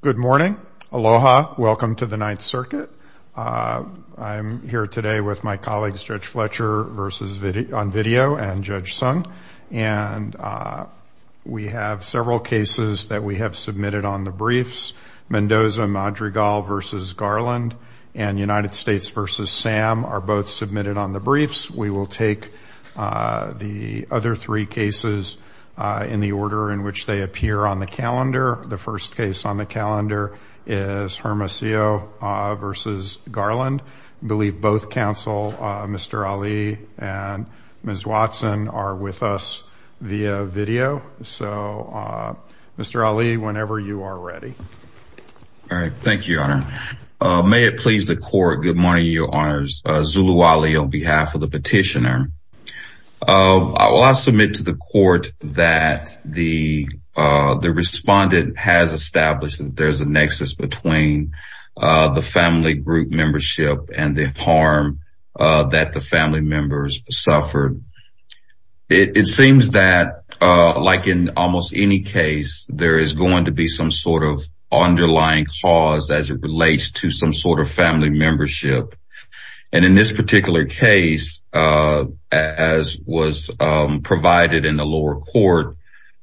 Good morning. Aloha. Welcome to the Ninth Circuit. I'm here today with my colleague Judge Fletcher on video and Judge Sung. We have several cases that we have submitted on the briefs. Mendoza-Madrigal v. Garland and United States v. Sam are both submitted on the briefs. We will take the other three cases in the order in which they appear on the calendar. The first case on the calendar is Hermosillo v. Garland. I believe both counsel Mr. Ali and Ms. Watson are with us via video. Mr. Ali, whenever you are ready. Judge Fletcher Thank you, Your Honor. May it please the court, good morning, Your Honors. Zulu Ali on behalf of the petitioner. I will submit to the court that the respondent has that the family members suffered. It seems that like in almost any case, there is going to be some sort of underlying cause as it relates to some sort of family membership. And in this particular case, as was provided in the lower court,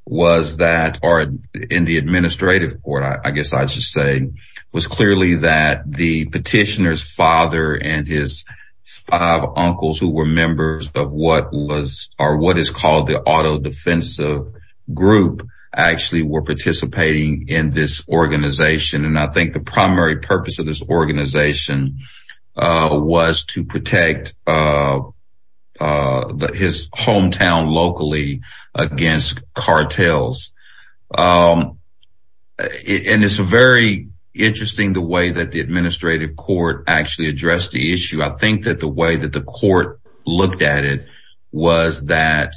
was that or in the administrative court, I guess I should say, was clearly that the petitioner's father and his five uncles who were members of what was or what is called the auto-defensive group actually were participating in this organization. And I think the primary purpose of this organization was to protect his hometown locally against cartels. And it's very interesting the way that the administrative court actually addressed the issue. I think that the way that the court looked at it was that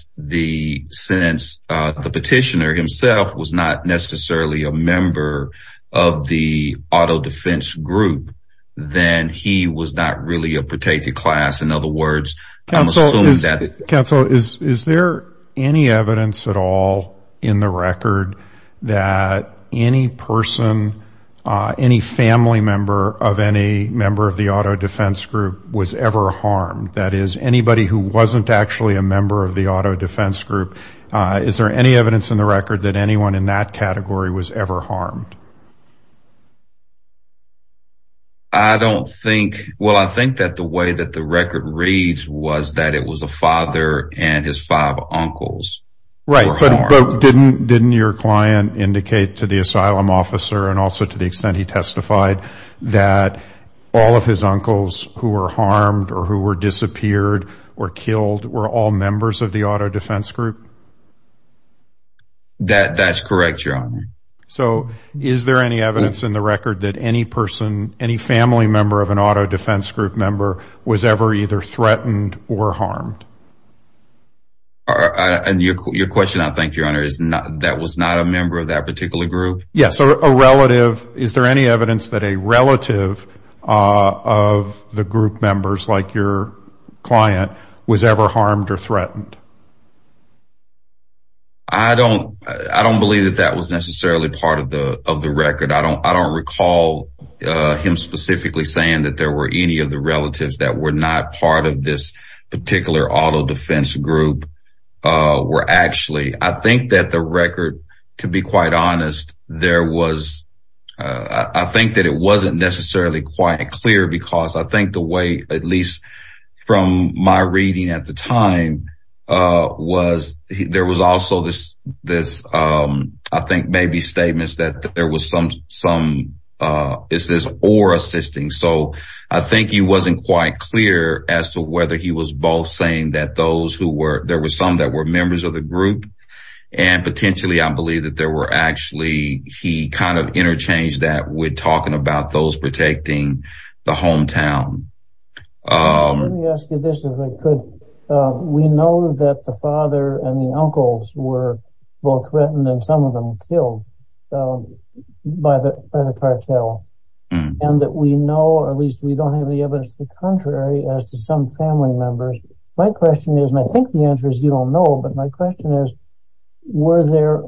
since the petitioner himself was not necessarily a member of the protected class, in other words, counsel is there any evidence at all in the record that any person, any family member of any member of the auto-defense group was ever harmed? That is anybody who wasn't actually a member of the auto-defense group? Is there any evidence in the record that anyone in that category was ever harmed? I don't think, well, I think that the way that the record reads was that it was a father and his five uncles. Right, but didn't your client indicate to the asylum officer and also to the extent he testified that all of his uncles who were harmed or who were disappeared or killed were all members of the auto-defense group? That's correct, your honor. So, is there any evidence in the record that any person, any family member of an auto-defense group member was ever either threatened or harmed? And your question, I think, your honor, is that was not a member of that particular group? Yes, a relative. Is there any evidence that a relative of the group members like your client was ever harmed or threatened? I don't believe that that was necessarily part of the record. I don't recall him specifically saying that there were any of the relatives that were not part of this particular auto-defense group were actually. I think that the record, to be quite honest, I think that it wasn't necessarily quite clear because I think the way, at least from my reading at the time, was there was also this, I think, maybe statements that there was some, is this, or assisting. So, I think he wasn't quite clear as to whether he was both saying that those who were, there were some that were members of the group and potentially, I believe that there were actually, he kind of interchanged that with talking about those protecting the hometown. Let me ask you this as I could. We know that the father and the uncles were both threatened and some of them killed by the cartel and that we know, or at least we don't have any evidence to the contrary, as to some family members. My question is, and I think the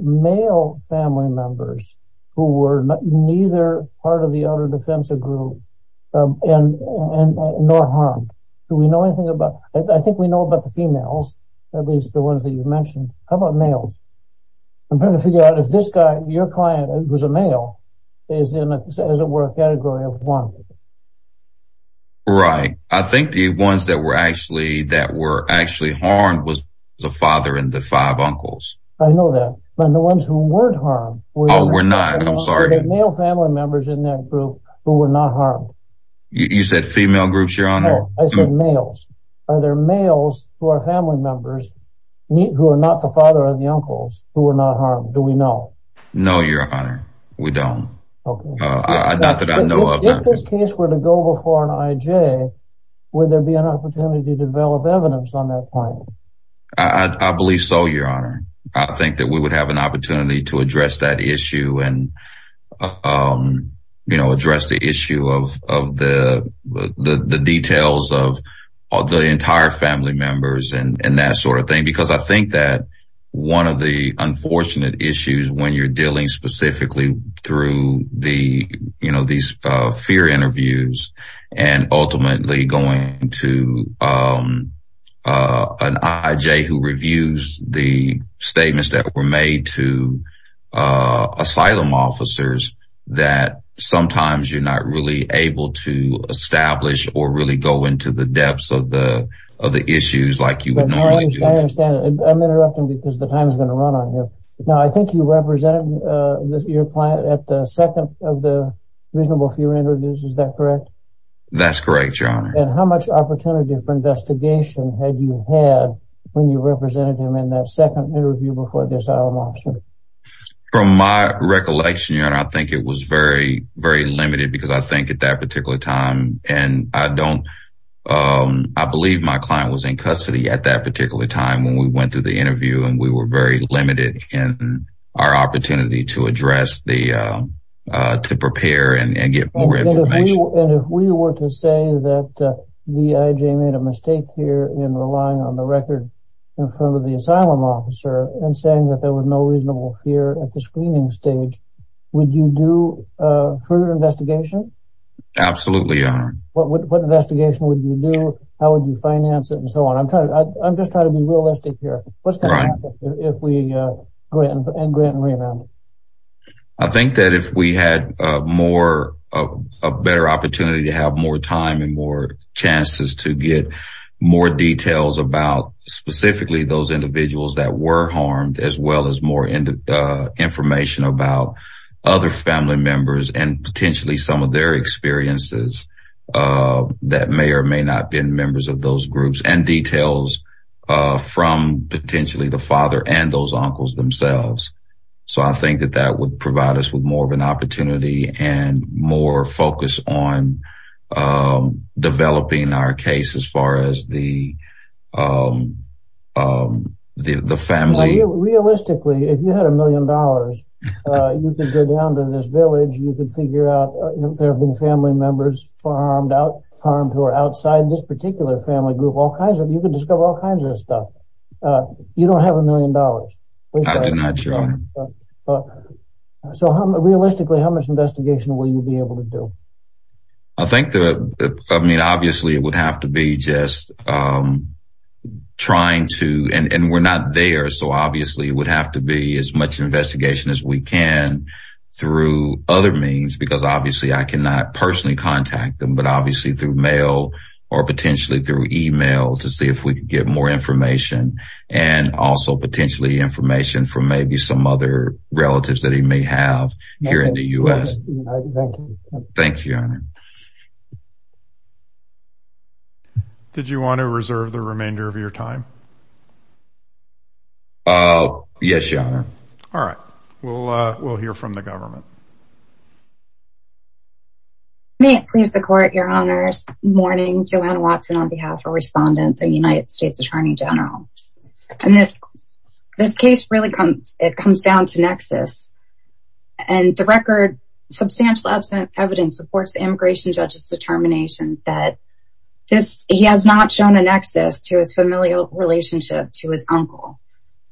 male family members who were neither part of the auto-defense group and nor harmed, do we know anything about, I think we know about the females, at least the ones that you mentioned. How about males? I'm trying to figure out if this guy, your client, was a male, is in, as it were, a category of one. Right. I think the ones that were actually, that were actually harmed was the father and the five uncles. I know that, but the ones who weren't harmed? Oh, we're not, I'm sorry. Are there male family members in that group who were not harmed? You said female groups, your honor? No, I said males. Are there males who are family members, who are not the father and the uncles, who were not harmed? Do we know? No, your honor, we don't. Okay. Not that I know of. If this case were to go before an IJ, would there be an opportunity to develop evidence on that point? I believe so, your honor. I think that we would have an opportunity to address that issue and address the issue of the details of the entire family members and that sort of thing. Because I think that one of the unfortunate issues when you're dealing specifically through these fear interviews, and ultimately going to an IJ who reviews the statements that were made to asylum officers, that sometimes you're not really able to establish or really go into the depths of the issues like you would normally do. I understand. I'm interrupting because the time is going to run on here. Now, I think you represented your client at the second of the fear interviews. Is that correct? That's correct, your honor. And how much opportunity for investigation have you had when you represented him in that second interview before the asylum officer? From my recollection, your honor, I think it was very, very limited because I think at that particular time, and I don't, I believe my client was in custody at that particular time when we went through the interview, and we were very limited in our opportunity to address the, to prepare and get more information. And if we were to say that the IJ made a mistake here in relying on the record in front of the asylum officer and saying that there was no reasonable fear at the screening stage, would you do further investigation? Absolutely, your honor. What investigation would you do? How would you finance it and so on? I'm trying to, I'm just trying to be I think that if we had more, a better opportunity to have more time and more chances to get more details about specifically those individuals that were harmed, as well as more information about other family members and potentially some of their experiences that may or may not be in members of those groups and details from potentially the father and those uncles themselves. So I think that that would provide us with more of an opportunity and more focus on developing our case as far as the family. Realistically, if you had a million dollars, you can go down to this village, you can figure out if there have been family members farmed out, harmed or outside this particular family group, all kinds of you can discover all kinds of stuff. You don't have a million dollars. I do not. So realistically, how much investigation will you be able to do? I think that I mean, obviously, it would have to be just trying to and we're not there. So obviously, it would have to be as much investigation as we can through other means, because obviously, I cannot personally contact them, but obviously through mail, or potentially through email to see if we could get more information, and also potentially information from maybe some other relatives that he may have here in the US. Thank you. Did you want to reserve the remainder of your time? Yes, your honor. May it please the court, your honors. Morning, Joanne Watson, on behalf of a respondent, the United States Attorney General. And this case really comes, it comes down to nexus. And the record, substantial evidence supports the immigration judge's determination that this he has not shown a nexus to his familial relationship to his uncle.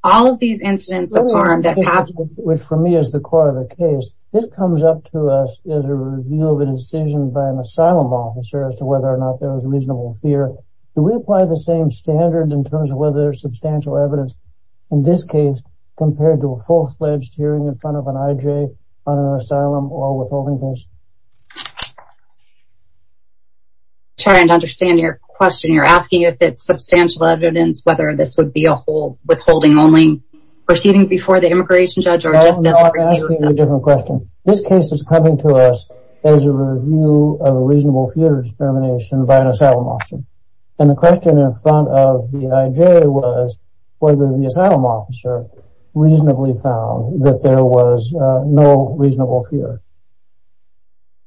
All of these incidents which for me is the core of the case, this comes up to us as a review of an incision by an asylum officer as to whether or not there was reasonable fear. Do we apply the same standard in terms of whether substantial evidence in this case, compared to a full fledged hearing in front of an IJ on an asylum or withholding case? Trying to understand your question, you're asking if it's substantial evidence, whether this would be a whole withholding only proceeding before the immigration judge or just as a different question. This case is coming to us as a review of a reasonable fear of discrimination by an asylum officer. And the question in front of the IJ was whether the asylum officer reasonably found that there was no reasonable fear.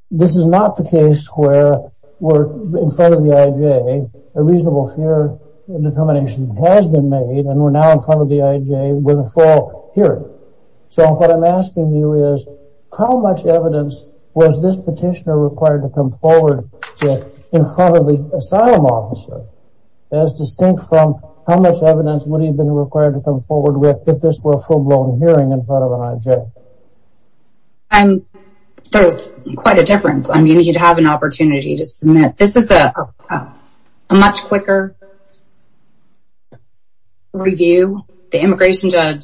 This is not the case where in front of the IJ, a reasonable fear determination has been made and we're now in front of the IJ with a full hearing. So what I'm asking you is, how much evidence was this petitioner required to come forward with in front of the asylum officer? As distinct from how much evidence would he have been required to come forward with if this were a full blown hearing in front of an IJ? There's quite a difference. I mean, you'd have an opportunity to submit. This is a much quicker review. The immigration judge,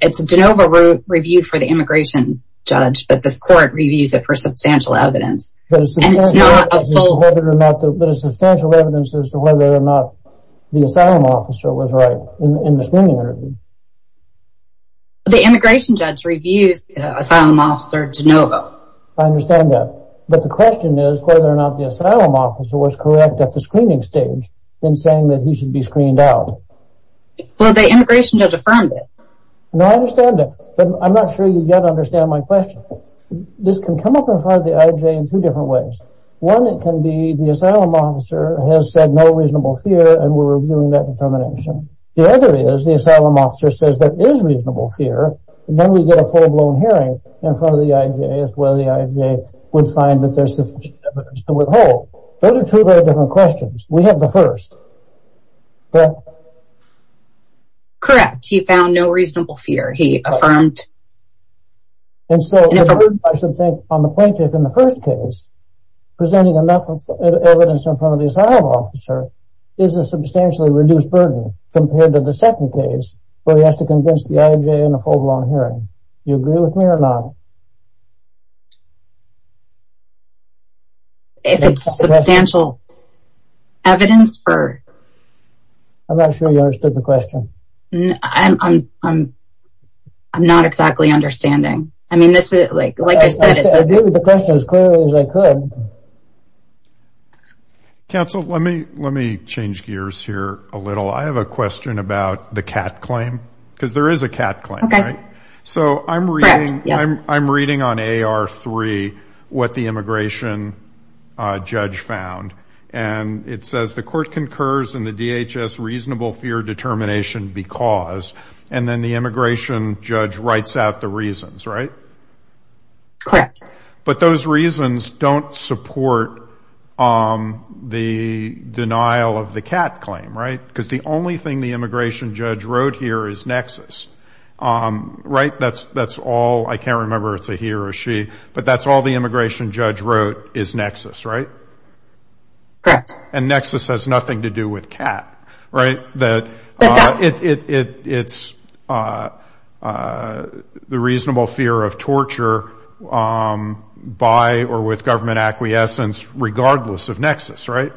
it's a de novo review for the immigration judge, but this court reviews it for substantial evidence. But it's not a full... But it's substantial evidence as to whether or not the asylum officer was right in the screening interview. The immigration judge reviews asylum officer de novo. I understand that. But the question is whether or not the asylum officer was correct at the screening stage in saying that he should be screened out. Well, the immigration judge affirmed it. No, I understand that. But I'm not sure you yet understand my question. This can come up in front of the IJ in two different ways. One, it can be the asylum officer has said no reasonable fear and we're reviewing that fear. Then we get a full blown hearing in front of the IJ as to whether the IJ would find that there's sufficient evidence to withhold. Those are two very different questions. We have the first. Correct. He found no reasonable fear, he affirmed. And so I should think on the plaintiff in the first case, presenting enough evidence in front of the asylum officer is a substantially reduced burden compared to the second case, where he has to convince the IJ in a full blown hearing. You agree with me or not? If it's substantial evidence for... I'm not sure you understood the question. I'm not exactly understanding. I mean, this is like, like I said, I did the question as clearly as I could. Okay. Counsel, let me, let me change gears here a little. I have a question about the cat claim, because there is a cat claim, right? So I'm reading, I'm reading on AR3, what the immigration judge found. And it says the court concurs in the DHS reasonable fear determination because, and then the immigration judge writes out the reasons, right? Correct. But those reasons don't support the denial of the cat claim, right? Because the only thing the immigration judge wrote here is nexus, right? That's, that's all, I can't remember it's a he or a she, but that's all the immigration judge wrote is nexus, right? Correct. And nexus has nothing to do with cat, right? It's the reasonable fear of torture by or with government acquiescence, regardless of nexus, right?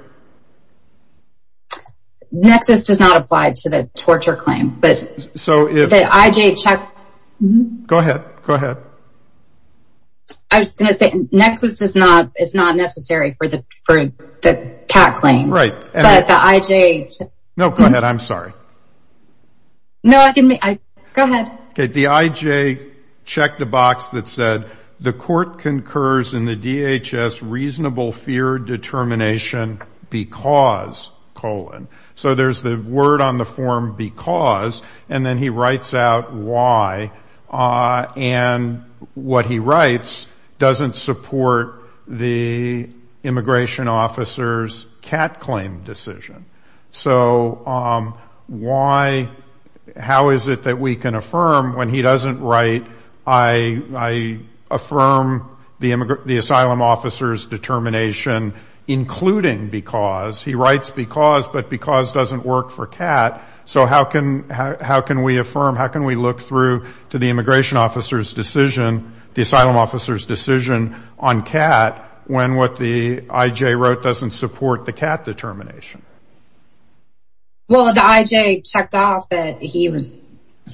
Nexus does not apply to the torture claim, but. So if. The IJ check. Go ahead, go ahead. I was going to say nexus is not, is not necessary for the, for the cat claim. Right. But the IJ. No, go ahead. I'm sorry. No, I didn't mean, go ahead. Okay. The IJ checked the box that said the court concurs in the DHS reasonable fear determination because colon. So there's the word on the form because, and then he writes out why, and what he writes doesn't support the immigration officer's cat claim decision. So why, how is it that we can affirm when he doesn't write, I affirm the asylum officer's determination, including because, he writes because, but because doesn't work for cat. So how can, how can we affirm, how can we look through to the immigration officer's decision, the asylum officer's decision on cat when what the IJ wrote doesn't support the cat determination? Well, the IJ checked off that he was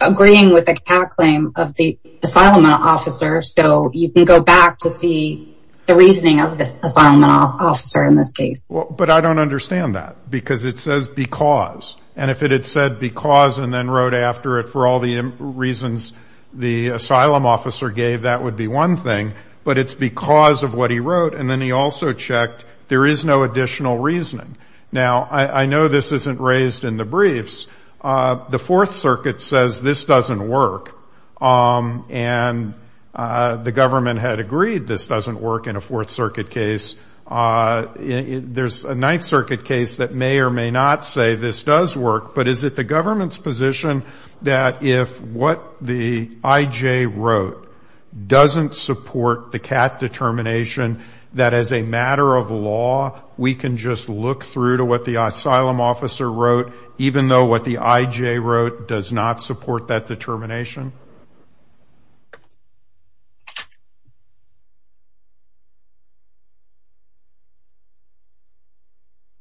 agreeing with the cat claim of the asylum officer. So you can go back to see the reasoning of this asylum officer in this case. But I don't understand that because it says because, and if it had said because and then wrote after it for all the reasons the asylum officer gave, that would be one thing, but it's because of what he wrote. And then he also checked, there is no additional reasoning. Now, I know this isn't raised in the briefs. The Fourth Circuit says this doesn't work. And the government had agreed this doesn't work in a Fourth Circuit case. There's a Ninth Circuit case that may or may not say this does work, but is it the government's position that if what the IJ wrote doesn't support the cat determination, that as a matter of law, we can just look through to what the asylum officer wrote, even though what the IJ wrote does not support that determination?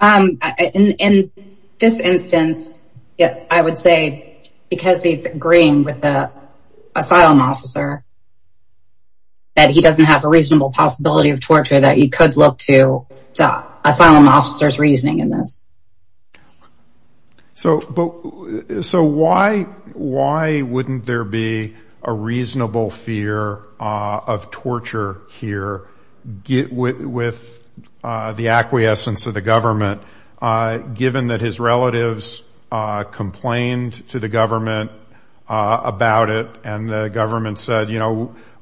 In this instance, I would say because it's agreeing with the asylum officer, that he doesn't have a reasonable possibility of torture, that you could look to the asylum officer's reasoning in this. So why wouldn't there be a reasonable fear of torture here with the acquiescence of the government, given that his relatives complained to the government about it, and the government said,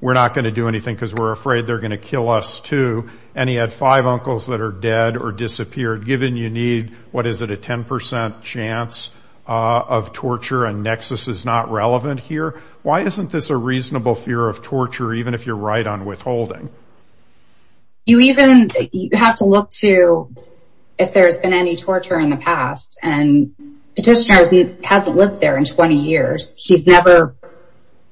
we're not going to do anything because we're afraid they're going to kill us too, and he had five uncles that are dead or disappeared, given you need, what is it, a 10% chance of torture and nexus is not relevant here? Why isn't this a reasonable fear of torture, even if you're right on withholding? You even have to look to if there's been any torture in the past. Petitioner hasn't lived there in 20 years. He's never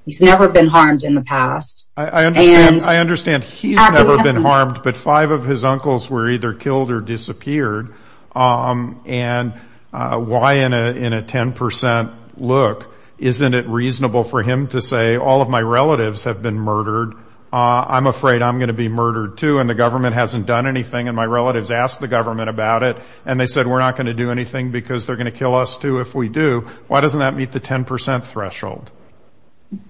been harmed in the past. I understand he's never been harmed, but five of his uncles were either killed or disappeared. And why in a 10% look, isn't it reasonable for him to say, all of my relatives have been murdered, I'm afraid I'm going to be murdered too, and the government hasn't done anything, and my relatives asked the government about it, and they said, we're not going to do anything because they're going to kill us too if we do. Why doesn't that meet the 10% threshold?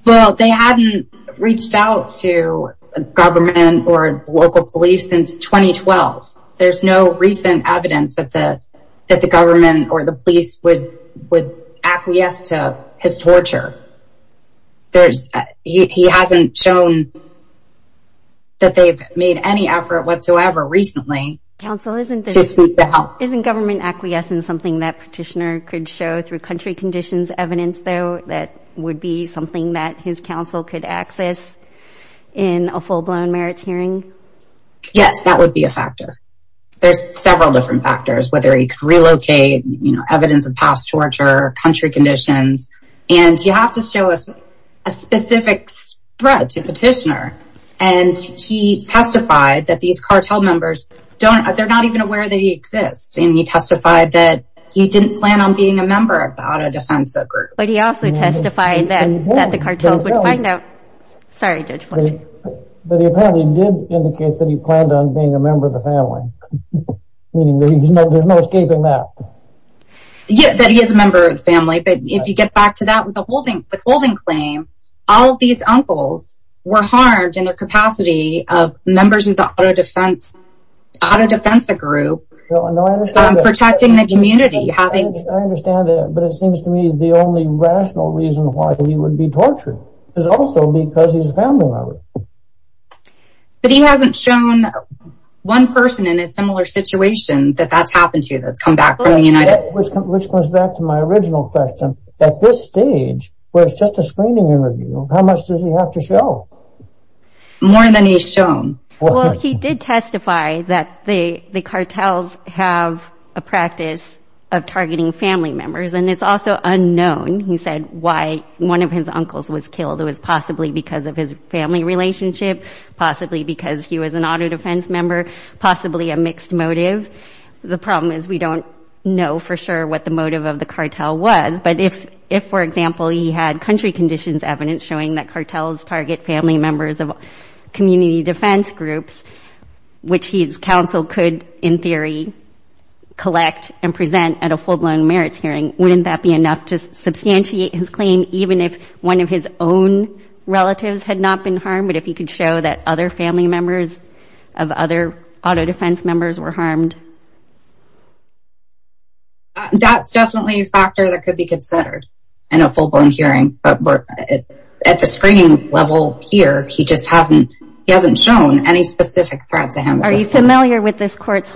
Well, they hadn't reached out to government or local police since 2012. There's no recent evidence that the government or the police would acquiesce to his torture. He hasn't shown that they've made any effort whatsoever recently. Counsel, isn't government acquiescence something that Petitioner could show through country conditions evidence, though, that would be something that his counsel could access in a full-blown merits hearing? Yes, that would be a factor. There's several different factors, whether he could relocate, you know, evidence of past torture, country conditions, and you have to show us a specific threat to Petitioner. And he testified that these cartel members, they're not even aware that he exists, and he testified that he didn't plan on being a member of the auto-defensive group. But he also testified that the cartels would find out. Sorry, Judge Fletcher. But he apparently did indicate that he planned on being a member of the family, meaning that there's no escaping that. Yeah, that he is a member of the family, but if you get back to that with the holding claim, all of these uncles were harmed in their capacity of members of the auto-defense group, protecting the community, having... I understand that, but it seems to me the only rational reason why he would be tortured is also because he's a family member. But he hasn't shown one person in a similar situation that that's happened to, that's come back from the United States. Which goes back to my original question. At this stage, where it's just a screening interview, how much does he have to show? More than he's shown. Well, he did testify that the cartels have a practice of targeting family members. And it's also unknown, he said, why one of his uncles was killed. It was possibly because of his family relationship, possibly because he was an auto-defense member, possibly a mixed motive. The problem is we don't know for sure what the motive of the cartel was. If, for example, he had country conditions evidence showing that cartels target family members of community defense groups, which his counsel could, in theory, collect and present at a full-blown merits hearing, wouldn't that be enough to substantiate his claim, even if one of his own relatives had not been harmed? But if he could show that other family members of other auto-defense members were harmed? That's definitely a factor that could be considered in a full-blown hearing. But at the screening level here, he just hasn't shown any specific threats to him. Are you familiar with this court's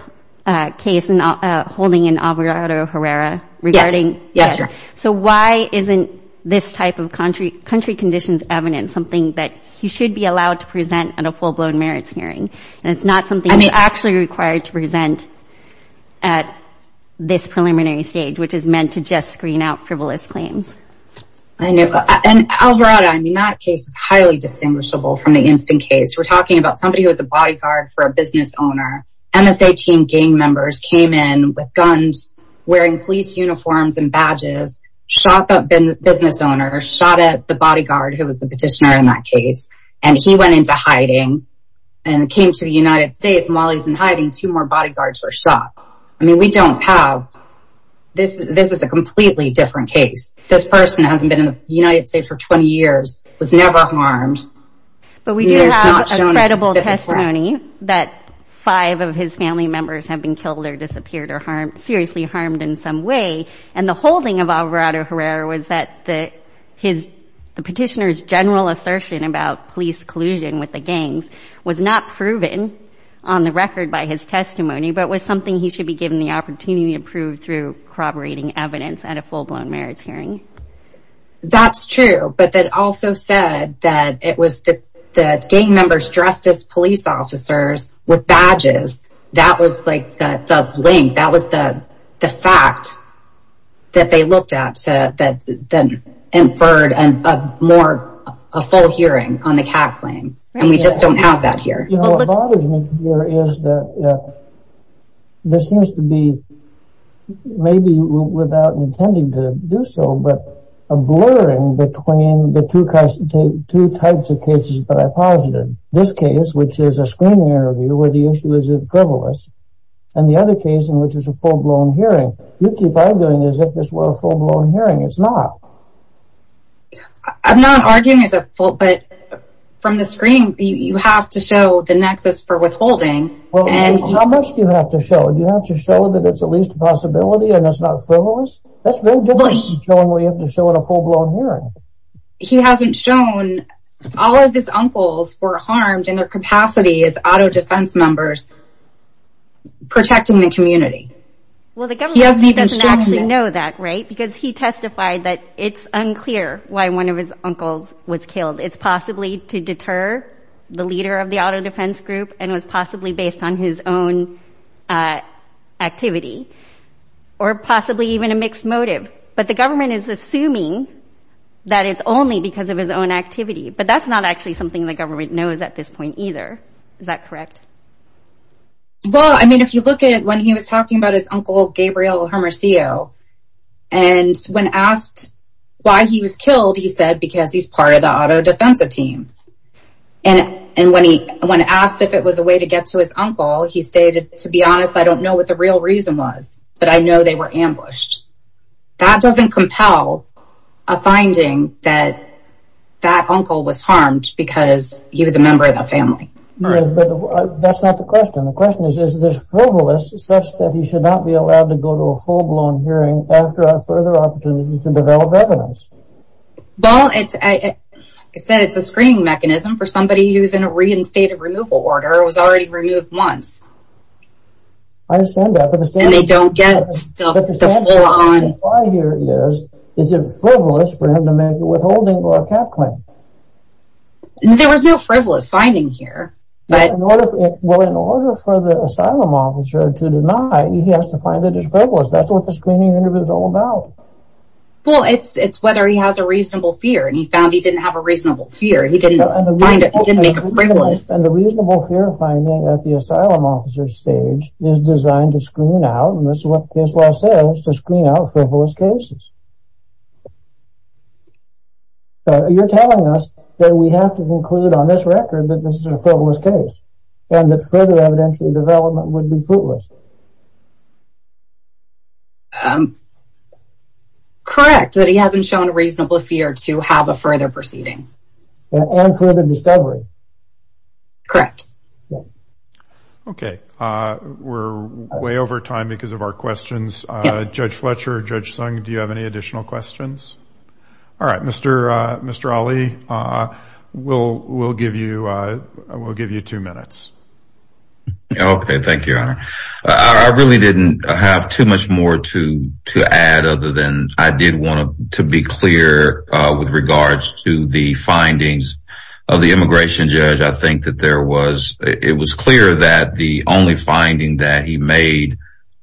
case holding in Alvarado Herrera regarding? Yes, yes, Your Honor. So why isn't this type of country conditions evidence something that he should be allowed to present at a full-blown merits hearing? At this preliminary stage, which is meant to just screen out frivolous claims. I know. And Alvarado, I mean, that case is highly distinguishable from the instant case. We're talking about somebody who was a bodyguard for a business owner. MSA team gang members came in with guns, wearing police uniforms and badges, shot the business owner, shot at the bodyguard who was the petitioner in that case. And he went into hiding and came to the United States. While he's in hiding, two more bodyguards were shot. I mean, we don't have this. This is a completely different case. This person hasn't been in the United States for 20 years, was never harmed. But we do have a credible testimony that five of his family members have been killed or disappeared or seriously harmed in some way. And the holding of Alvarado Herrera was that the petitioner's general assertion about police collusion with the gangs was not proven on the record by his testimony, but was something he should be given the opportunity to prove through corroborating evidence at a full-blown merits hearing. That's true. But that also said that it was the gang members dressed as police officers with badges. That was like the link. That was the fact that they looked at that inferred a full hearing on the cat claim. And we just don't have that here. You know, what bothers me here is that this seems to be, maybe without intending to do so, but a blurring between the two types of cases that I posited. This case, which is a screening interview where the issue is frivolous, and the other case in which is a full-blown hearing. You keep arguing as if this were a full-blown hearing. It's not. I'm not arguing as a full, but from the screen, you have to show the nexus for withholding. Well, how much do you have to show? Do you have to show that it's at least a possibility and it's not frivolous? That's very different from showing what you have to show in a full-blown hearing. He hasn't shown all of his uncles were harmed in their capacity as auto defense members in protecting the community. Well, the government doesn't actually know that, right? Because he testified that it's unclear why one of his uncles was killed. It's possibly to deter the leader of the auto defense group, and it was possibly based on his own activity, or possibly even a mixed motive. But the government is assuming that it's only because of his own activity. But that's not actually something the government knows at this point either. Is that correct? Well, I mean, if you look at when he was talking about his uncle, Gabriel Hermosillo, and when asked why he was killed, he said, because he's part of the auto defense team. And when asked if it was a way to get to his uncle, he stated, to be honest, I don't know what the real reason was, but I know they were ambushed. That doesn't compel a finding that that uncle was harmed because he was a member of that family. But that's not the question. The question is, is this frivolous such that he should not be allowed to go to a full-blown hearing after a further opportunity to develop evidence? Well, it's a screening mechanism for somebody who's in a reinstated removal order, or was already removed once. I understand that. And they don't get the full-on... But the standpoint here is, is it frivolous for him to make a withholding or a cap claim? There was no frivolous finding here. But... Well, in order for the asylum officer to deny, he has to find that it's frivolous. That's what the screening interview is all about. Well, it's whether he has a reasonable fear, and he found he didn't have a reasonable fear. He didn't find it, he didn't make a frivolous. And the reasonable fear finding at the asylum officer's stage is designed to screen out, and this is what I say, is to screen out frivolous cases. So, you're telling us that we have to conclude on this record that this is a frivolous case, and that further evidential development would be frivolous? Correct, that he hasn't shown a reasonable fear to have a further proceeding. And further discovery. Correct. Okay. We're way over time because of our questions. Judge Fletcher, Judge Sung, do you have any additional questions? All right, Mr. Ali, we'll give you two minutes. Okay, thank you, Your Honor. I really didn't have too much more to add other than I did want to be clear with regards to the findings of the immigration judge. I think that there was, it was clear that the only finding that he made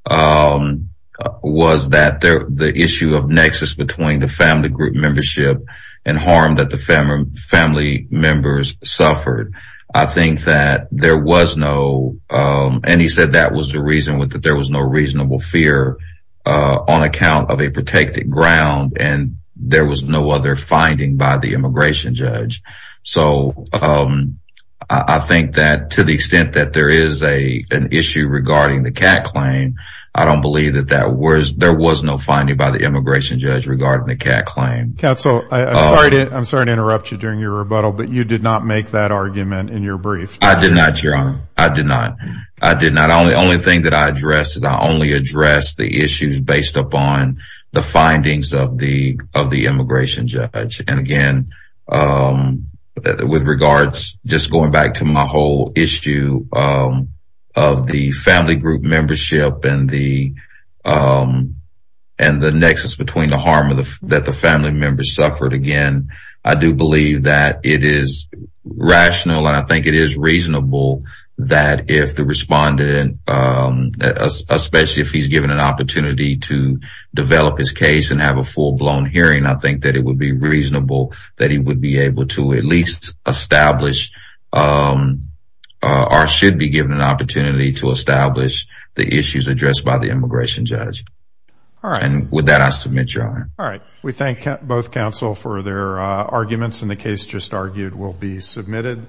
was that the issue of nexus between the family group membership and harm that the family members suffered. I think that there was no, and he said that was the reason that there was no reasonable fear on account of a protected ground, and there was no other finding by the immigration judge. So I think that to the extent that there is an issue regarding the Catt claim, I don't believe that there was no finding by the immigration judge regarding the Catt claim. Counsel, I'm sorry to interrupt you during your rebuttal, but you did not make that argument in your brief. I did not, Your Honor. I did not. I did not. The only thing that I addressed is I only addressed the issues based upon the findings of the immigration judge. And again, with regards, just going back to my whole issue of the family group membership and the nexus between the harm that the family members suffered. Again, I do believe that it is rational, and I think it is reasonable that if the respondent, especially if he's given an opportunity to develop his case and have a full-blown hearing, I think that it would be reasonable that he would be able to at least establish, or should be given an opportunity to establish the issues addressed by the immigration judge. And with that, I submit, Your Honor. All right. We thank both counsel for their arguments, and the case just argued will be submitted.